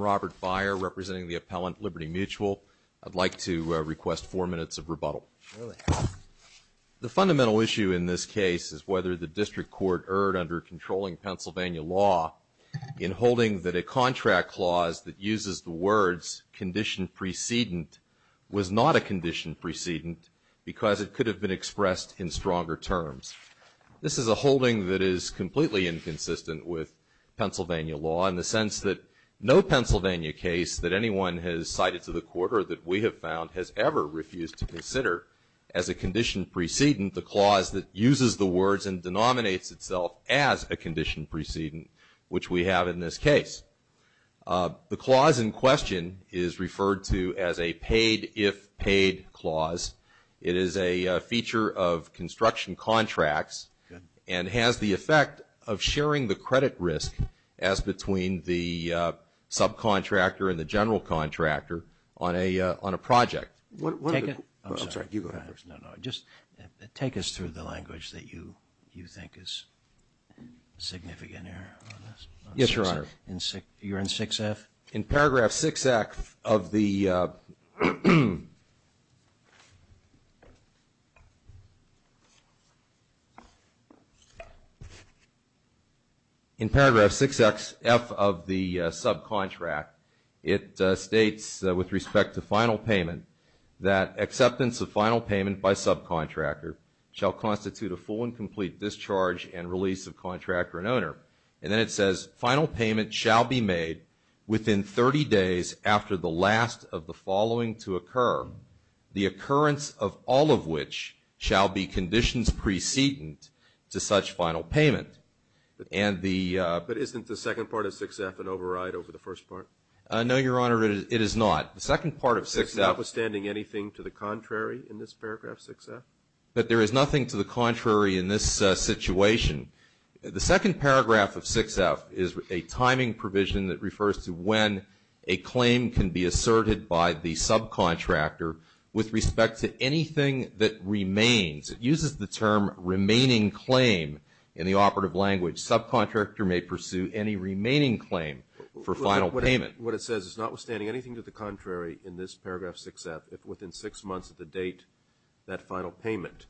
Robert Byer, representing the appellant Liberty Mutual, requests four minutes of rebuttal. The fundamental issue in this case is whether the district court erred under controlling Pennsylvania law in holding that a contract clause that uses the words condition precedent was not a condition precedent because it could have been expressed in stronger terms. This is a holding that is completely inconsistent with Pennsylvania law in the sense that no Pennsylvania case that anyone has cited to the court or that we have found has ever refused to consider as a condition precedent the clause that uses the words and denominates itself as a condition precedent, which we have in this case. The clause in question is referred to as a paid if paid clause. It is a feature of construction contracts and has the effect of sharing the credit risk as between the subcontractor and the general contractor on a on a project. Take us through the language that you think is significant here. Yes, Your Honor. You're in 6F? In paragraph 6F of the subcontract it states with respect to final payment that acceptance of final payment by subcontractor shall constitute a full and complete discharge and release of contractor and owner. And then it says final payment shall be made within 30 days after the last of the following to occur, the occurrence of all of which shall be conditions precedent to such final payment. But isn't the Your Honor, it is not. The second part of 6F. There's notwithstanding anything to the contrary in this paragraph 6F? But there is nothing to the contrary in this situation. The second paragraph of 6F is a timing provision that refers to when a claim can be asserted by the subcontractor with respect to anything that remains. It uses the term remaining claim in the operative language. Subcontractor may pursue any remaining claim for final payment. What it says is notwithstanding anything to the contrary in this paragraph 6F, if within six months of the date that final payment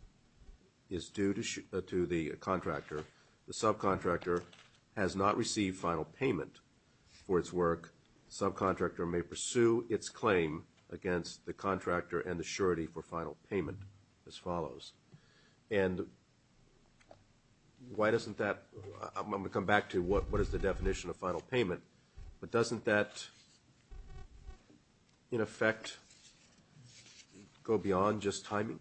is due to the contractor, the subcontractor has not received final payment for its work, subcontractor may pursue its claim against the contractor and the surety for final payment as follows. And why doesn't that, I'm going to come back to what is the definition of in effect go beyond just timing?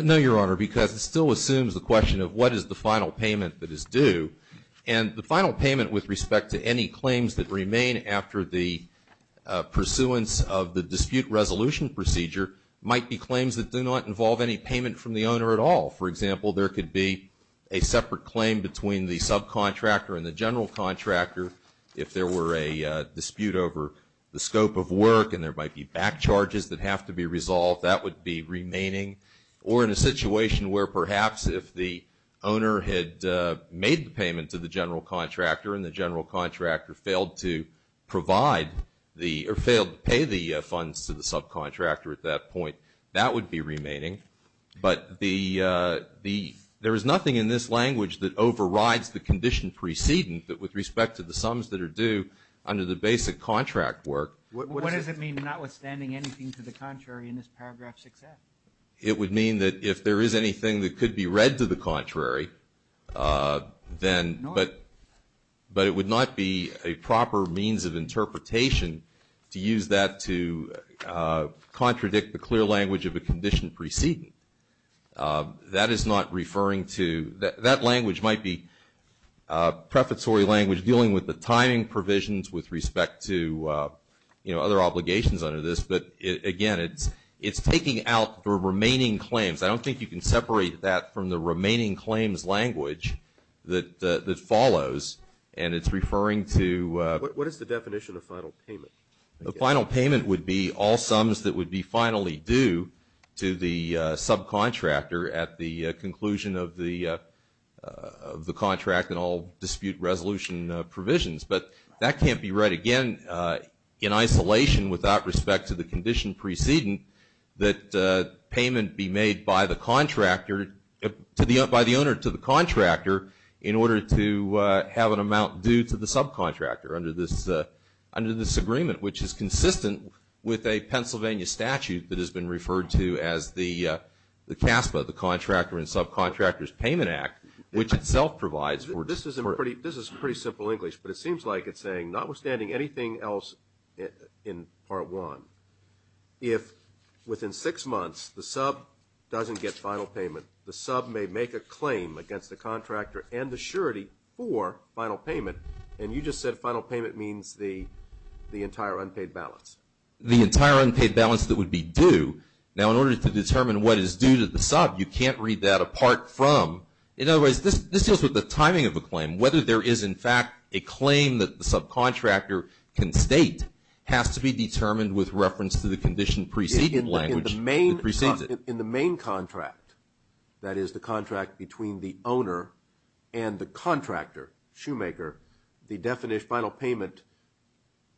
No, Your Honor, because it still assumes the question of what is the final payment that is due. And the final payment with respect to any claims that remain after the pursuance of the dispute resolution procedure might be claims that do not involve any payment from the owner at all. For example, there could be a separate claim between the subcontractor and the general contractor if there were a dispute over the scope of work and there might be back charges that have to be resolved, that would be remaining. Or in a situation where perhaps if the owner had made the payment to the general contractor and the general contractor failed to provide the, or failed to pay the funds to the subcontractor at that point, that would be remaining. But the, there is nothing in this language that overrides the condition precedent that with respect to the sums that are due under the basic contract work. What does it mean notwithstanding anything to the contrary in this paragraph 6F? It would mean that if there is anything that could be read to the contrary, then, but it would not be a proper means of interpretation to use that to contradict the clear language of a condition precedent. That is not referring to, that language might be prefatory language dealing with the timing provisions with respect to, you know, other obligations under this. But again, it's taking out the remaining claims. I don't think you can separate that from the remaining claims language that follows and it's referring to. What is the definition of finally due to the subcontractor at the conclusion of the, of the contract and all dispute resolution provisions. But that can't be read again in isolation without respect to the condition precedent that payment be made by the contractor, to the, by the owner to the contractor in order to have an amount due to the subcontractor under this, under this agreement, which is consistent with a Pennsylvania statute that has been referred to as the CASPA, the Contractor and Subcontractors Payment Act, which itself provides for. This is a pretty, this is pretty simple English, but it seems like it's saying, not withstanding anything else in part one, if within six months the sub doesn't get final payment, the sub may make a claim against the contractor and the surety for final payment. And you just said final payment means the, the entire unpaid balance. The entire unpaid balance that would be due. Now in order to determine what is due to the sub, you can't read that apart from, in other words, this, this deals with the timing of the claim. Whether there is in fact a claim that the subcontractor can state has to be determined with reference to the condition preceding language. In the main, in the main contract, that is the contract between the owner and the contractor, shoemaker, the definition of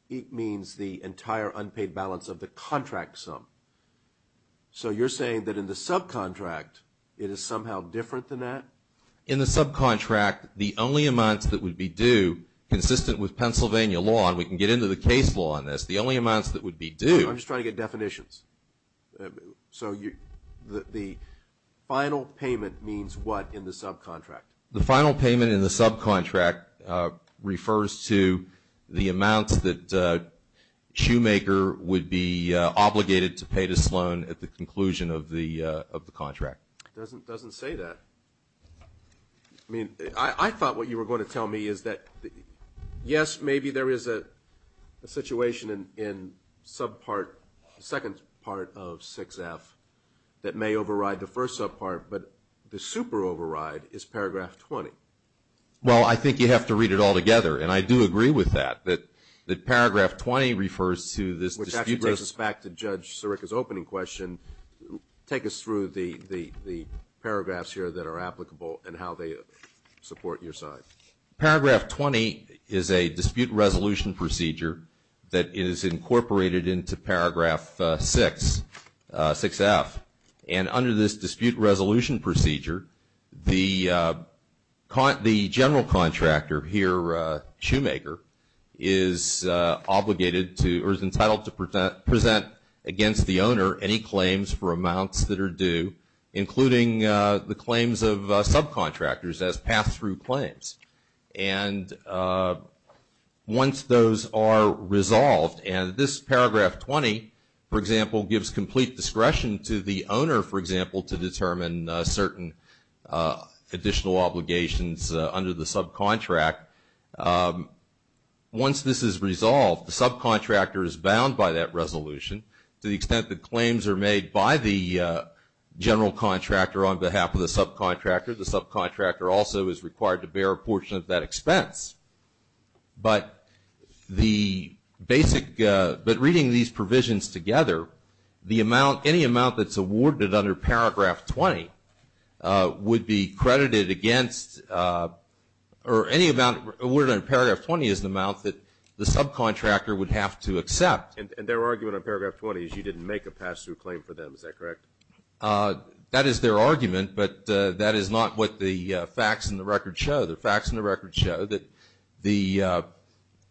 the entire unpaid balance of the contract sum. So you're saying that in the subcontract, it is somehow different than that? In the subcontract, the only amounts that would be due, consistent with Pennsylvania law, and we can get into the case law on this, the only amounts that would be due. I'm just trying to get definitions. So you, the, the final payment means what in the subcontract? The final payment in the subcontract refers to the amounts that shoemaker would be obligated to pay to Sloan at the conclusion of the, of the contract. Doesn't, doesn't say that. I mean, I thought what you were going to tell me is that, yes, maybe there is a situation in subpart, second part of 6f that may override the first subpart, but the super override is paragraph 20. Well, I think you have to read it all together, and I do agree with that, that, that paragraph 20 refers to this. Which actually takes us back to Judge Sirica's opening question. Take us through the, the, the paragraphs here that are applicable and how they support your side. Paragraph 20 is a dispute resolution procedure that is incorporated into paragraph 6, 6f, and under this dispute resolution procedure, the, the general contractor here, shoemaker, is obligated to, or is entitled to present against the owner any claims for amounts that are due, including the claims of subcontractors as pass-through claims. And once those are resolved, and this paragraph 20, for example, gives complete discretion to the owner of certain additional obligations under the subcontract, once this is resolved, the subcontractor is bound by that resolution to the extent that claims are made by the general contractor on behalf of the subcontractor. The subcontractor also is required to bear a portion of that expense. But the basic, but reading these provisions together, the amount, any amount that's awarded under paragraph 20 would be credited against, or any amount awarded under paragraph 20 is the amount that the subcontractor would have to accept. And, and their argument on paragraph 20 is you didn't make a pass-through claim for them, is that correct? That is their argument, but that is not what the facts in the record show. The facts in the record show that the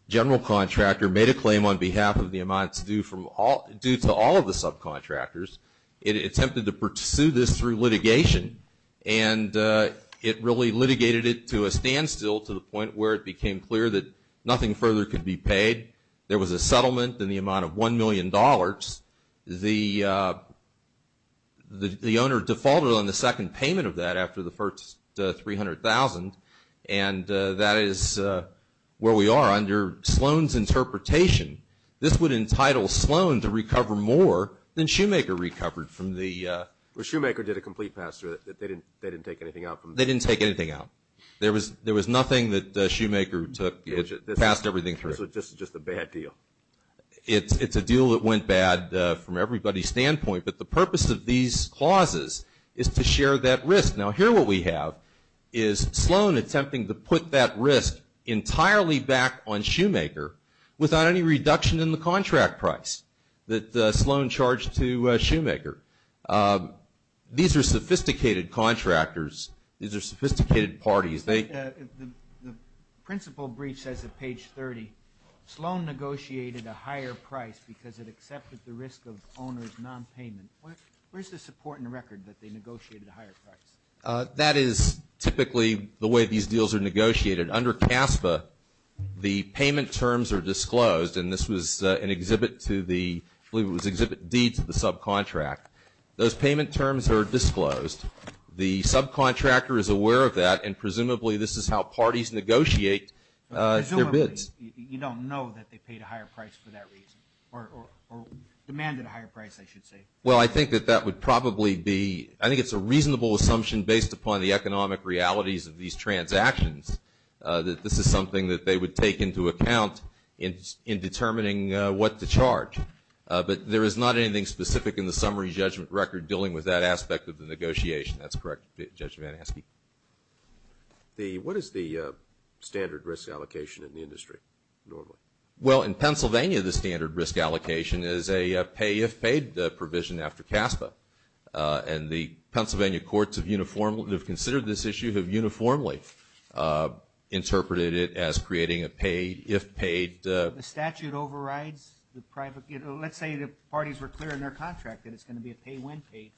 general contractor made a claim on behalf of the subcontractors. It attempted to pursue this through litigation, and it really litigated it to a standstill to the point where it became clear that nothing further could be paid. There was a settlement in the amount of $1 million. The, the owner defaulted on the second payment of that after the first $300,000, and that is where we are under Sloan's interpretation. This would entitle Sloan to recover more than Shoemaker recovered from the... Well, Shoemaker did a complete pass-through. They didn't, they didn't take anything out from... They didn't take anything out. There was, there was nothing that Shoemaker took. It passed everything through. This was just, just a bad deal. It's, it's a deal that went bad from everybody's standpoint, but the purpose of these clauses is to share that risk. Now, here what we have is Sloan attempting to put that risk entirely back on Shoemaker without any reduction in the that Sloan charged to Shoemaker. These are sophisticated contractors. These are sophisticated parties. They... The, the, the principal brief says at page 30, Sloan negotiated a higher price because it accepted the risk of owner's non-payment. Where, where's the support and record that they negotiated a higher price? That is typically the way these deals are negotiated. Under CASFA, the payment terms are disclosed, and this was an exhibit to the, I believe it was exhibit D to the subcontract. Those payment terms are disclosed. The subcontractor is aware of that, and presumably this is how parties negotiate their bids. Presumably. You don't know that they paid a higher price for that reason, or, or, or demanded a higher price, I should say. Well, I think that that would probably be, I think it's a reasonable assumption based upon the economic realities of these transactions, that this is something that they would take into account in, in determining what to charge. But there is not anything specific in the summary judgment record dealing with that aspect of the negotiation. That's correct, Judge Van Aske. The, what is the standard risk allocation in the industry, normally? Well, in Pennsylvania, the standard risk allocation is a pay-if-paid provision after CASFA. And the Pennsylvania courts have uniformly, have considered this issue, have uniformly interpreted it as creating a pay-if-paid. The statute overrides the private, you know, let's say the parties were clear in their contract that it's going to be a pay-when-paid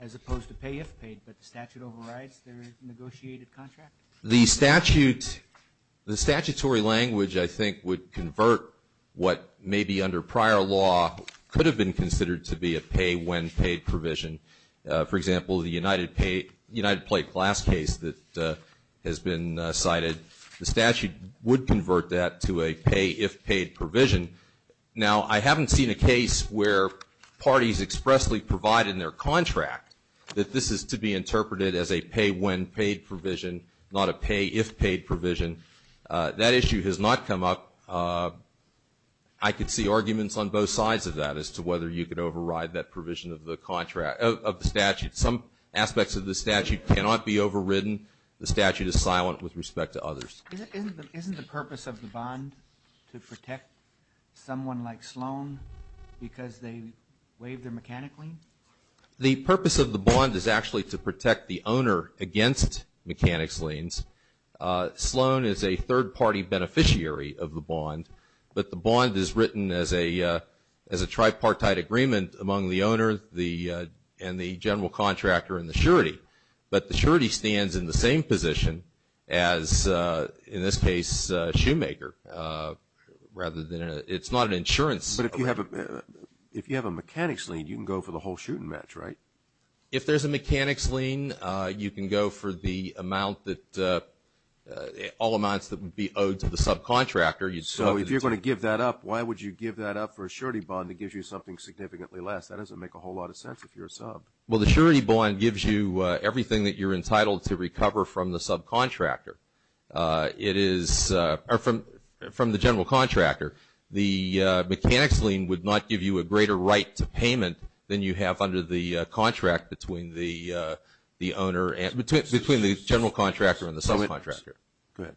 as opposed to pay-if-paid, but the statute overrides their negotiated contract? The statute, the statutory language, I think, would convert what may be under prior law could have been considered to be a pay-when-paid provision. For example, the United Pay, United Plate Glass case that has been cited, the statute would convert that to a pay-if-paid provision. Now, I haven't seen a case where parties expressly provide in their contract that this is to be interpreted as a pay-when-paid provision, not a pay-if-paid provision. That issue has not come up. I could see arguments on both sides of that as to whether you could override that provision of the statute. Some aspects of the statute cannot be overridden. The statute is silent with respect to others. Isn't the purpose of the bond to protect someone like Sloan because they waived their mechanic lien? The purpose of the bond is actually to protect the owner against mechanics liens. Sloan is a third-party beneficiary of the bond, but the bond is written as a tripartite agreement among the owner and the general contractor and the surety. But the surety stands in the same position as, in this case, Shoemaker, rather than a... It's not an insurance... But if you have a mechanics lien, you can go for the whole shooting match, right? If there's a mechanics lien, you can go for the amount that... all amounts that would be owed to the subcontractor. So if you're going to give that up, why would you give that up for a surety bond that gives you something significantly less? That doesn't make a whole lot of sense if you're a sub. Well, the surety bond gives you everything that you're entitled to recover from the subcontractor. It is... or from the general contractor. The mechanics lien would not give you a greater right to payment than you have under the contract between the owner and... between the general contractor and the subcontractor. Go ahead.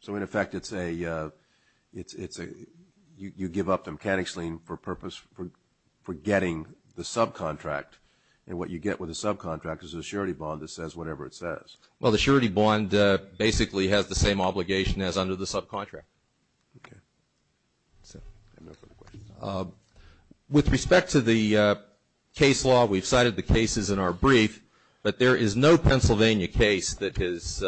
So in effect, it's a... you give up the mechanics lien for purpose... for getting the subcontract. And what you get with a subcontract is a surety bond that says whatever it says. Well, the surety bond basically has the same obligation as under the subcontract. Okay. So, I have no further questions. With respect to the case law, we've cited the cases in our brief, but there is no Pennsylvania case that has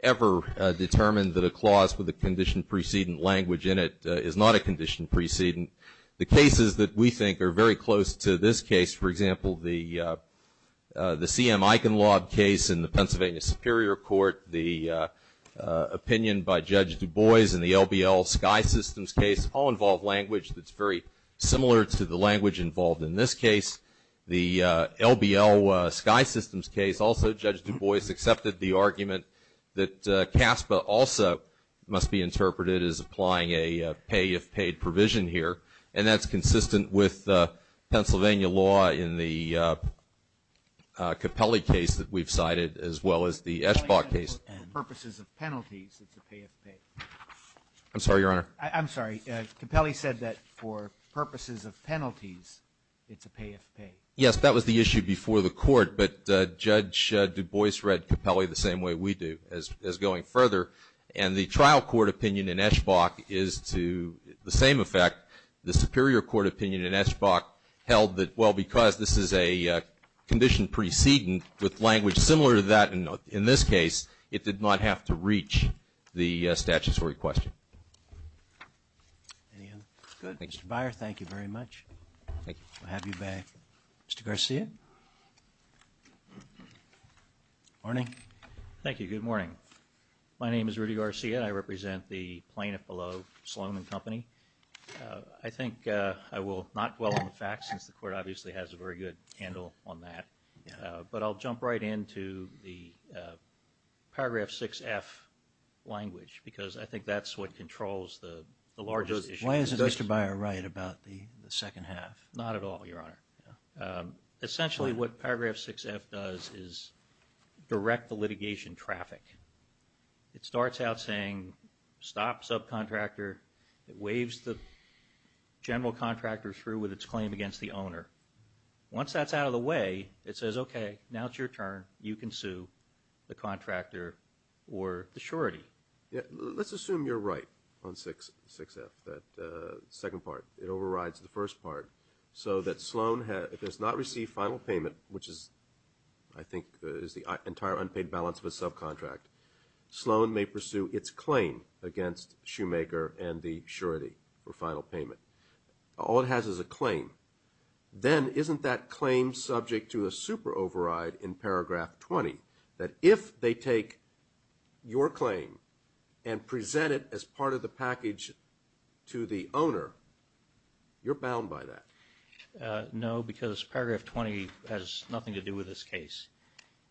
ever determined that a clause with a condition precedent language in it is not a condition precedent. The cases that we think are very close to this case, for example, the C.M. Eichenlaub case in the Pennsylvania Superior Court, the opinion by Judge Du Bois in the LBL Sky Systems case, all involve language that's very similar to the language involved in this case. The LBL Sky Systems case, also Judge Du Bois accepted the argument that CASPA also must be interpreted as applying a pay-if-paid provision here. And that's consistent with Pennsylvania law in the Capelli case that we've cited, as well as the Eschbach case. For purposes of penalties, it's a pay-if-pay. I'm sorry, Your Honor. I'm sorry. Capelli said that for purposes of penalties, it's a pay-if-pay. Yes, that was the issue before the court, but Judge Du Bois read Capelli the same way we do, as going further. And the trial court opinion in Eschbach is to the same effect. The Superior Court opinion in Eschbach held that, well, because this is a condition precedent with language similar to that in this case, it did not have to reach the statutory question. Any other? Good. Mr. Beyer, thank you very much. Thank you. We'll have you back. Mr. Garcia? Morning. Thank you. Good morning. My name is Rudy Garcia. I represent the plaintiff below, Salomon Company. I think I will not dwell on the facts, since the court obviously has a very good handle on that. But I'll jump right into the Paragraph 6F language, because I think that's what controls the largest issue. Why isn't Mr. Beyer right about the second half? Not at all, Your Honor. Essentially, what Paragraph 6F does is direct the litigation traffic. It starts out saying, stop subcontractor. It waves the general contractor through with its claim against the owner. Once that's out of the way, it says, okay, now it's your turn. You can sue the contractor or the surety. Let's assume you're right on 6F, that second part. It overrides the first part, so that Sloan has not received final payment, which is, I think, is the entire unpaid balance of a subcontract. Sloan may pursue its claim against Shoemaker and the surety for final payment. All it has is a claim. Then isn't that claim subject to a super override in Paragraph 20, that if they take your claim and present it as part of the package to the owner, you're bound by that? No, because Paragraph 20 has nothing to do with this case.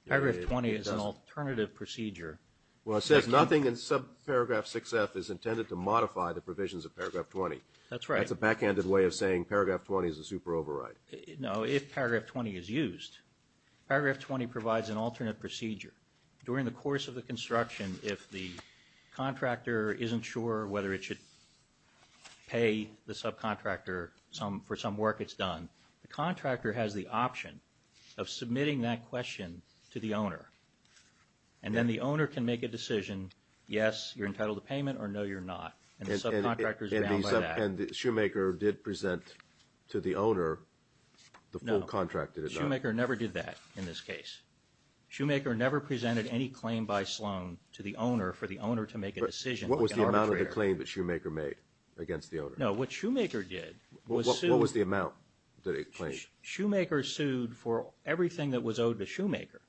Paragraph 20 is an alternative procedure. Well, it says nothing in subparagraph 6F is intended to modify the provisions of Paragraph 20. That's right. That's a backhanded way of saying Paragraph 20 is a super override. No, if Paragraph 20 is used. Paragraph 20 provides an alternate procedure. During the course of the construction, if the contractor isn't sure whether it should pay the subcontractor for some work it's done, the contractor has the option of submitting that question to the owner. And then the owner can make a decision. Yes, you're entitled to payment, or no, you're not. And the subcontractor is bound by that. And Shoemaker did present to the owner the full contract that it got. Shoemaker never did that in this case. Shoemaker never presented any claim by Sloan to the owner for the owner to make a decision. What was the amount of the claim that Shoemaker made against the owner? No, what Shoemaker did was sue. What was the amount that it claimed? Shoemaker sued for everything that was owed to Shoemaker,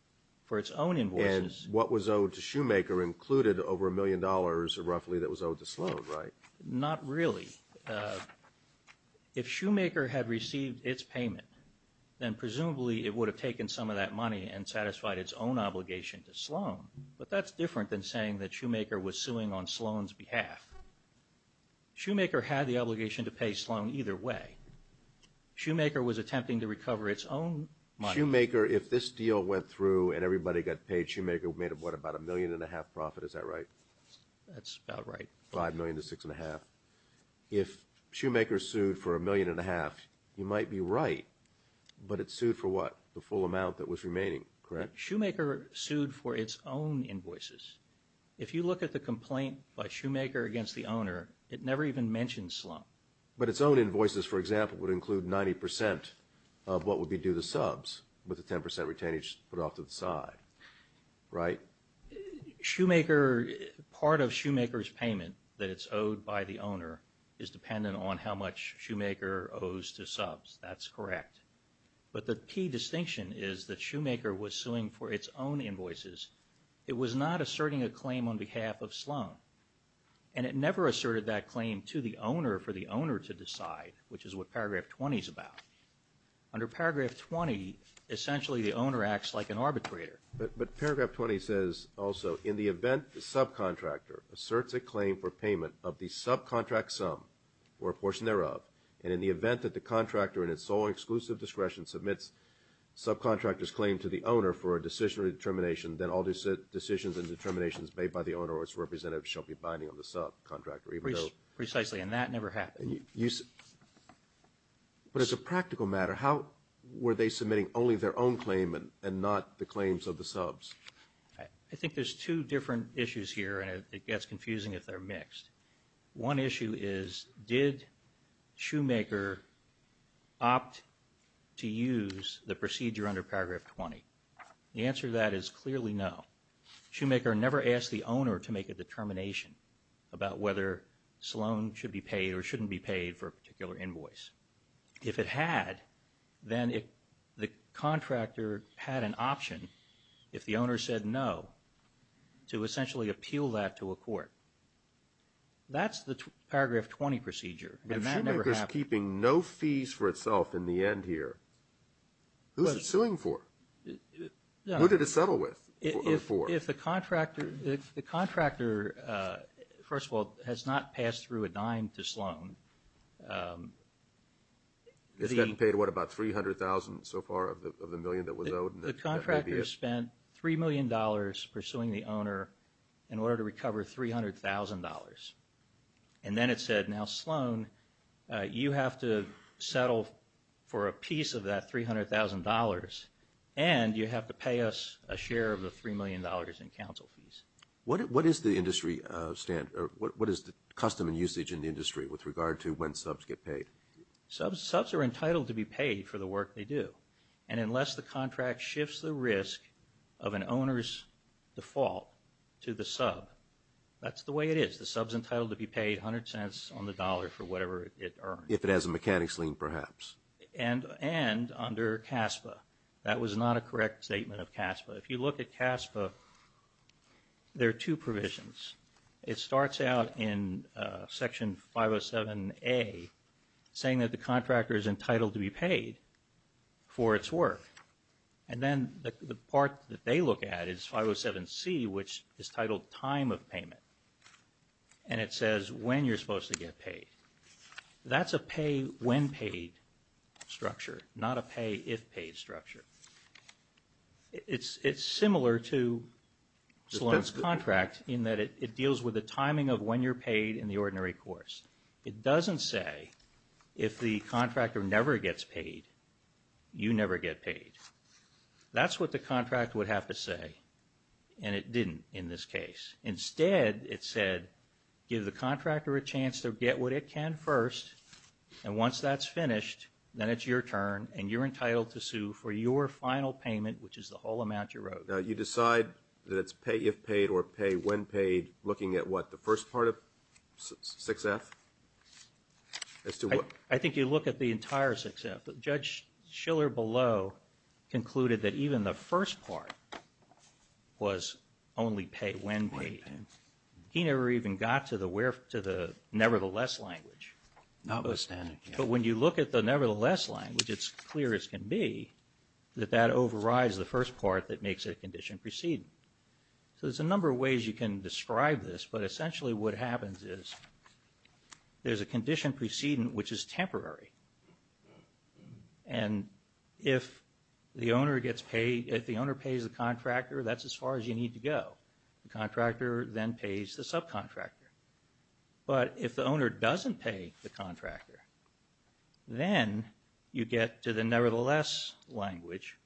for its own invoices. And what was owed to Shoemaker included over a million dollars roughly that was owed to Sloan, right? Not really. If Shoemaker had received its payment, then presumably it would have taken some of that money and satisfied its own obligation to Sloan. But that's different than saying that Shoemaker was suing on Sloan's behalf. Shoemaker had the obligation to pay Sloan either way. Shoemaker was attempting to recover its own money. Shoemaker, if this deal went through and everybody got paid, Shoemaker made what, about a million and a half profit, is that right? That's about right. Five million to six and a half. If Shoemaker sued for a million and a half, you might be right. But it sued for what? The full amount that was remaining, correct? Shoemaker sued for its own invoices. If you look at the complaint by Shoemaker against the owner, it never even mentioned Sloan. But its own invoices, for example, would include 90 percent of what would be due the subs, with a 10 percent retainage put off to the side, right? Shoemaker, part of Shoemaker's payment that it's owed by the owner is dependent on how much Shoemaker owes to subs. That's correct. But the key distinction is that Shoemaker was suing for its own invoices. It was not asserting a claim on behalf of Sloan. And it never asserted that claim to the owner for the owner to decide, which is what paragraph 20 is about. Under paragraph 20, essentially the owner acts like an arbitrator. But paragraph 20 says also, in the event the subcontractor asserts a claim for payment of the subcontract sum or a portion thereof, and in the event that the contractor in its sole and exclusive discretion submits subcontractor's claim to the owner for a decision or determination, then all decisions and determinations made by the owner or its representative shall be binding on the subcontractor. Precisely, and that never happened. But as a practical matter, how were they submitting only their own claim and not the claims of the subs? I think there's two different issues here, and it gets confusing if they're mixed. One issue is, did Shoemaker opt to use the procedure under paragraph 20? The answer to that is clearly no. Shoemaker never asked the owner to make a determination about whether Sloan should be paid or shouldn't be paid for a particular invoice. If it had, then the contractor had an option, if the owner said no, to essentially appeal that to a court. That's the paragraph 20 procedure, and that never happened. But if Shoemaker's keeping no fees for itself in the end here, who's it suing for? What did it settle with or for? If the contractor, first of all, has not passed through a dime to Sloan, it's getting paid, what, about $300,000 so far of the million that was owed? The contractor spent $3 million pursuing the owner in order to recover $300,000. And then it said, now Sloan, you have to settle for a piece of that $300,000, and you have to pay us a share of the $3 million in counsel fees. What is the industry standard? What is the custom and usage in the industry with regard to when subs get paid? Subs are entitled to be paid for the work they do. And unless the contract shifts the risk of an owner's default to the sub, that's the way it is. The sub's entitled to be paid 100 cents on the dollar for whatever it earned. If it has a mechanics lien, perhaps. And under CASPA. That was not a correct statement of CASPA. If you look at CASPA, there are two provisions. It starts out in section 507A, saying that the contractor is entitled to be paid for its work. And then the part that they look at is 507C, which is titled time of payment. And it says when you're supposed to get paid. That's a pay when paid structure, not a pay if paid structure. It's similar to Sloan's contract in that it deals with the timing of when you're paid in the ordinary course. It doesn't say if the contractor never gets paid, you never get paid. That's what the contract would have to say. And it didn't in this case. Instead, it said give the contractor a chance to get what it can first. And once that's finished, then it's your turn. And you're entitled to sue for your final payment, which is the whole amount you wrote. Now, you decide that it's pay if paid or pay when paid, looking at what? The first part of 6F? I think you look at the entire 6F. Judge Schiller below concluded that even the first part was only pay when paid. He never even got to the nevertheless language. Notwithstanding, yeah. But when you look at the nevertheless language, it's clear as can be that that overrides the first part that makes it a condition precedent. So there's a number of ways you can describe this, but essentially what happens is there's a condition precedent which is temporary. And if the owner gets paid, if the owner pays the contractor, that's as far as you need to go. The contractor then pays the subcontractor. But if the owner doesn't pay the contractor, then you get to the nevertheless language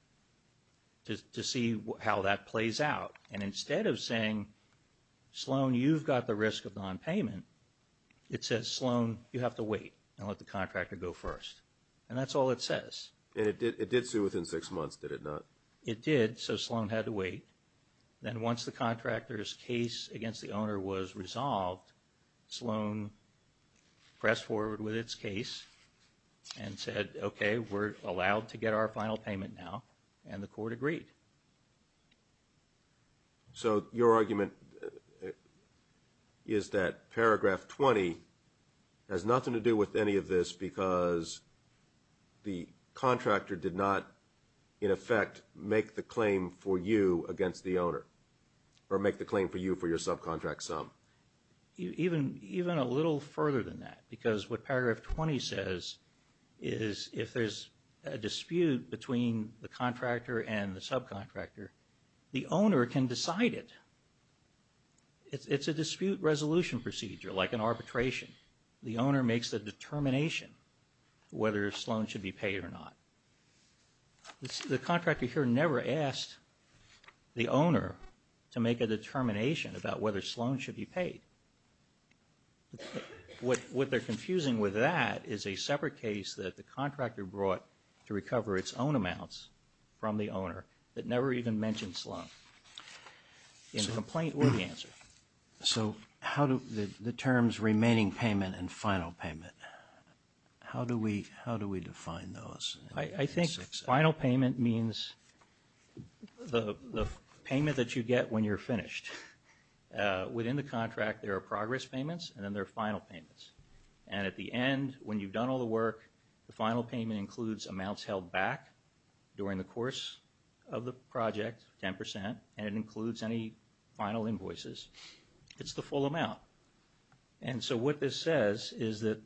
to see how that plays out. And instead of saying, Sloan, you've got the risk of nonpayment, it says, Sloan, you have to wait and let the contractor go first. And that's all it says. And it did sue within six months, did it not? Then once the contractor's case against the owner was resolved, Sloan pressed forward with its case and said, okay, we're allowed to get our final payment now. And the court agreed. So your argument is that paragraph 20 has nothing to do with any of this because the contractor did not, in effect, make the claim for you against the owner, or make the claim for you for your subcontract sum. Even a little further than that, because what paragraph 20 says is if there's a dispute between the contractor and the subcontractor, the owner can decide it. It's a dispute resolution procedure, like an arbitration. The owner makes the determination whether Sloan should be paid or not. The contractor here never asked the owner to make a determination about whether Sloan should be paid. What they're confusing with that is a separate case that the contractor brought to recover its own amounts from the owner that never even mentioned Sloan. And the complaint wouldn't answer. So how do the terms remaining payment and final payment, how do we define those? I think final payment means the payment that you get when you're finished. Within the contract, there are progress payments and then there are final payments. And at the end, when you've done all the work, the final payment includes amounts held back during the course of the project, 10%, and it includes any final invoices. It's the full amount. And so what this says is that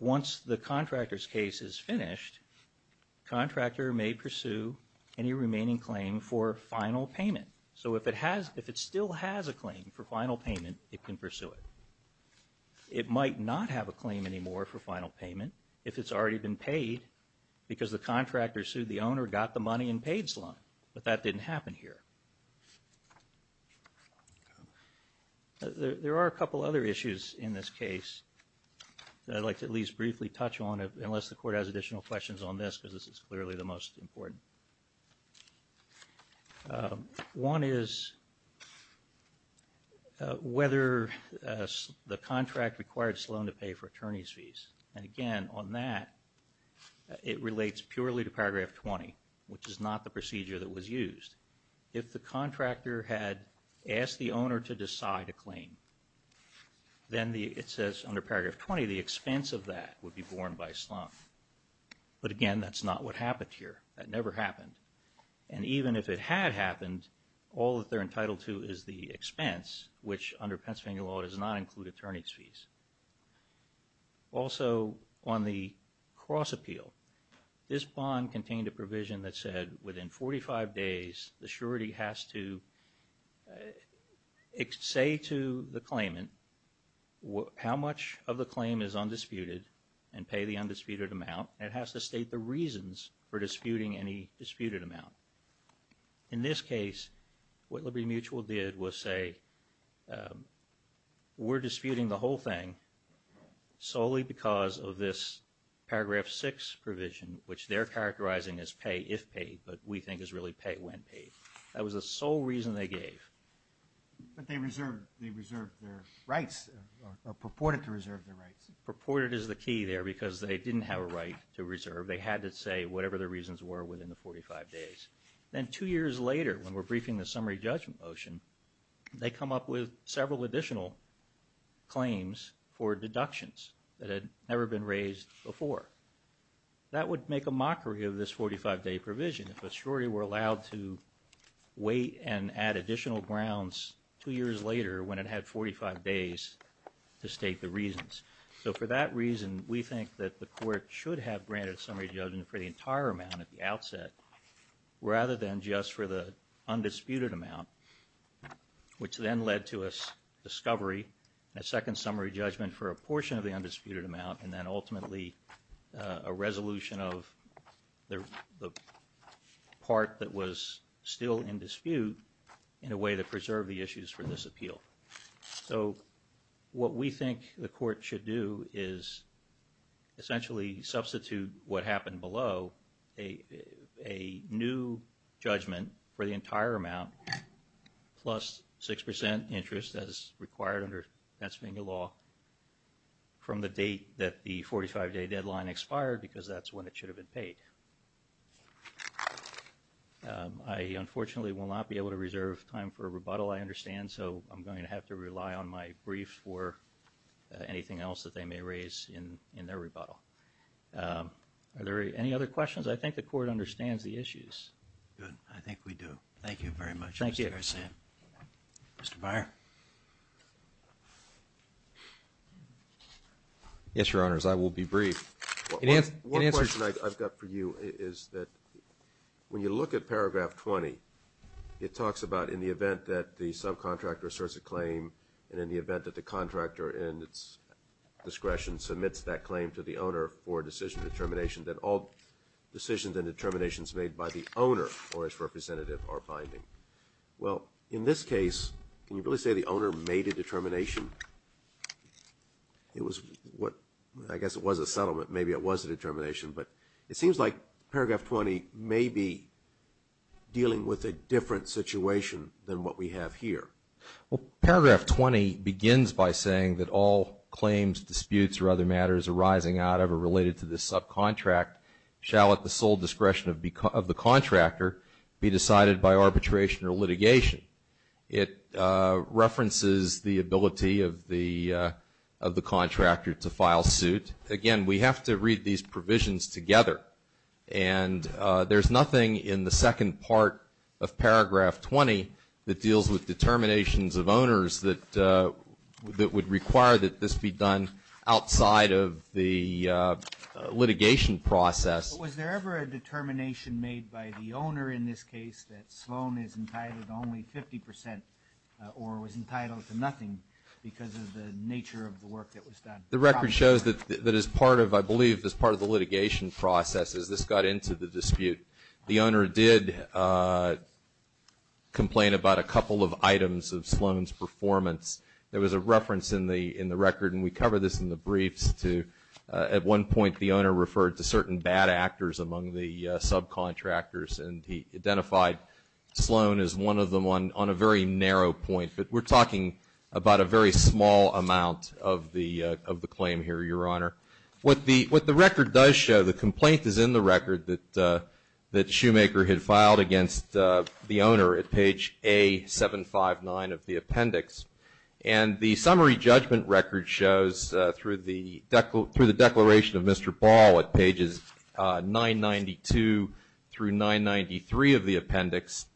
once the contractor's case is finished, the contractor may pursue any remaining claim for final payment. So if it still has a claim for final payment, it can pursue it. It might not have a claim anymore for final payment if it's already been paid because the contractor sued the owner, got the money, and paid Sloan. But that didn't happen here. There are a couple other issues in this case that I'd like to at least briefly touch on, unless the court has additional questions on this, because this is clearly the most important. One is whether the contract required Sloan to pay for attorney's fees. And again, on that, it relates purely to paragraph 20, which is not the procedure that was used. If the contractor had asked the owner to decide a claim, then it says under paragraph 20, the expense of that would be borne by Sloan. But again, that's not what happened here. That never happened. And even if it had happened, all that they're entitled to is the expense, which under Pennsylvania law does not include attorney's fees. Also, on the cross-appeal, this bond contained a provision that said within 45 days, the surety has to say to the claimant how much of the claim is undisputed and pay the undisputed amount. And it has to state the reasons for disputing any disputed amount. In this case, what Liberty Mutual did was say, we're disputing the whole thing solely because of this paragraph 6 provision, which they're characterizing as pay if paid, but we think is really pay when paid. That was the sole reason they gave. But they reserved their rights, or purported to reserve their rights. Purported is the key there, because they didn't have a right to reserve. They had to say whatever the reasons were within the 45 days. Then two years later, when we're briefing the summary judgment motion, they come up with several additional claims for deductions that had never been raised before. That would make a mockery of this 45-day provision if a surety were allowed to wait and add additional grounds two years later when it had 45 days to state the reasons. So for that reason, we think that the court should have granted summary judgment for the entire amount at the outset, rather than just for the undisputed amount. Which then led to a discovery, a second summary judgment for a portion of the undisputed amount, and then ultimately a resolution of the part that was still in dispute in a way to preserve the issues for this appeal. So what we think the court should do is essentially substitute what happened below a new judgment for the entire amount, plus 6% interest as required under Pennsylvania law, from the date that the 45-day deadline expired, because that's when it should have been paid. I unfortunately will not be able to reserve time for a rebuttal, I understand, so I'm going to have to rely on my briefs for anything else that they may raise in their rebuttal. Are there any other questions? I think the court understands the issues. Good, I think we do. Thank you very much, Mr. Garcia. Thank you. Mr. Beyer? Yes, Your Honors, I will be brief. One question I've got for you is that when you look at paragraph 20, it talks about in the event that the subcontractor asserts a claim, and in the event that the contractor in its discretion submits that claim to the owner for decision determination, that all decisions and determinations made by the owner or its representative are binding. Well, in this case, can you really say the owner made a determination? I guess it was a settlement, maybe it was a determination, but it seems like paragraph 20 may be dealing with a different situation than what we have here. Well, paragraph 20 begins by saying that all claims, disputes, or other matters arising out of or related to the subcontract shall at the sole discretion of the contractor be decided by arbitration or litigation. It references the ability of the contractor to file suit. Again, we have to read these provisions together, and there's nothing in the second part of paragraph 20 that deals with determinations of owners that would require that this be done outside of the litigation process. Was there ever a determination made by the owner in this case that Sloan is entitled to only 50% or was entitled to nothing because of the nature of the work that was done? The record shows that as part of, I believe, as part of the litigation process as this got into the dispute, the owner did complain about a couple of items of Sloan's performance. There was a reference in the record, and we cover this in the briefs, at one point the owner referred to certain bad actors among the subcontractors, and he identified Sloan as one of them on a very narrow point. But we're talking about a very small amount of the claim here, Your Honor. What the record does show, the complaint is in the record that Shoemaker had filed against the owner at page A759 of the appendix. And the summary judgment record shows through the declaration of Mr. Ball at pages 992 through 993 of the appendix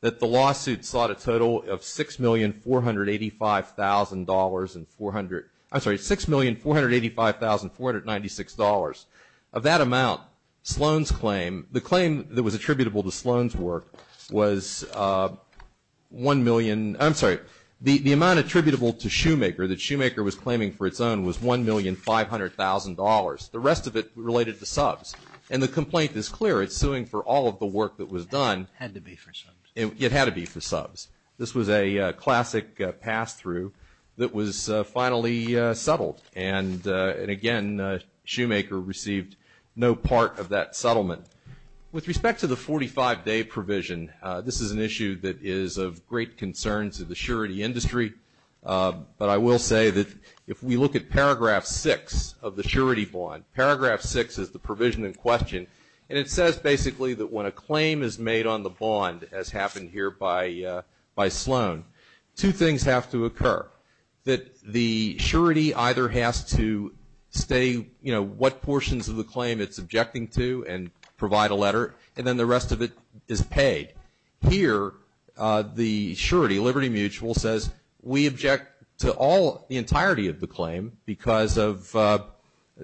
that the lawsuit sought a total of $6,485,496. Of that amount, Sloan's claim, the claim that was attributable to Sloan's work was 1 million, I'm sorry, the amount attributable to Shoemaker that Shoemaker was claiming for its own was $1,500,000. The rest of it related to subs. And the complaint is clear. It's suing for all of the work that was done. Had to be for subs. It had to be for subs. This was a classic pass-through that was finally settled. And again, Shoemaker received no part of that settlement. With respect to the 45-day provision, this is an issue that is of great concern to the surety industry. But I will say that if we look at paragraph 6 of the surety bond, paragraph 6 is the provision in question. And it says basically that when a claim is made on the bond, as happened here by Sloan, two things have to occur. That the surety either has to stay, you know, what portions of the claim it's objecting to and provide a letter. And then the rest of it is paid. Here, the surety, Liberty Mutual, says we object to all, the entirety of the claim because of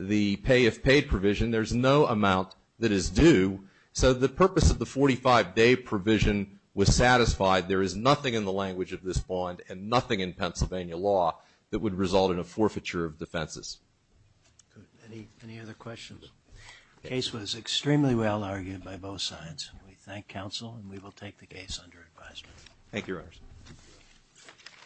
the pay-if-paid provision. There's no amount that is due. So the purpose of the 45-day provision was satisfied. There is nothing in the language of this bond and nothing in Pennsylvania law that would result in a forfeiture of defenses. Any other questions? The case was extremely well-argued by both sides. We thank counsel and we will take the case under advisement. Thank you, Your Honors.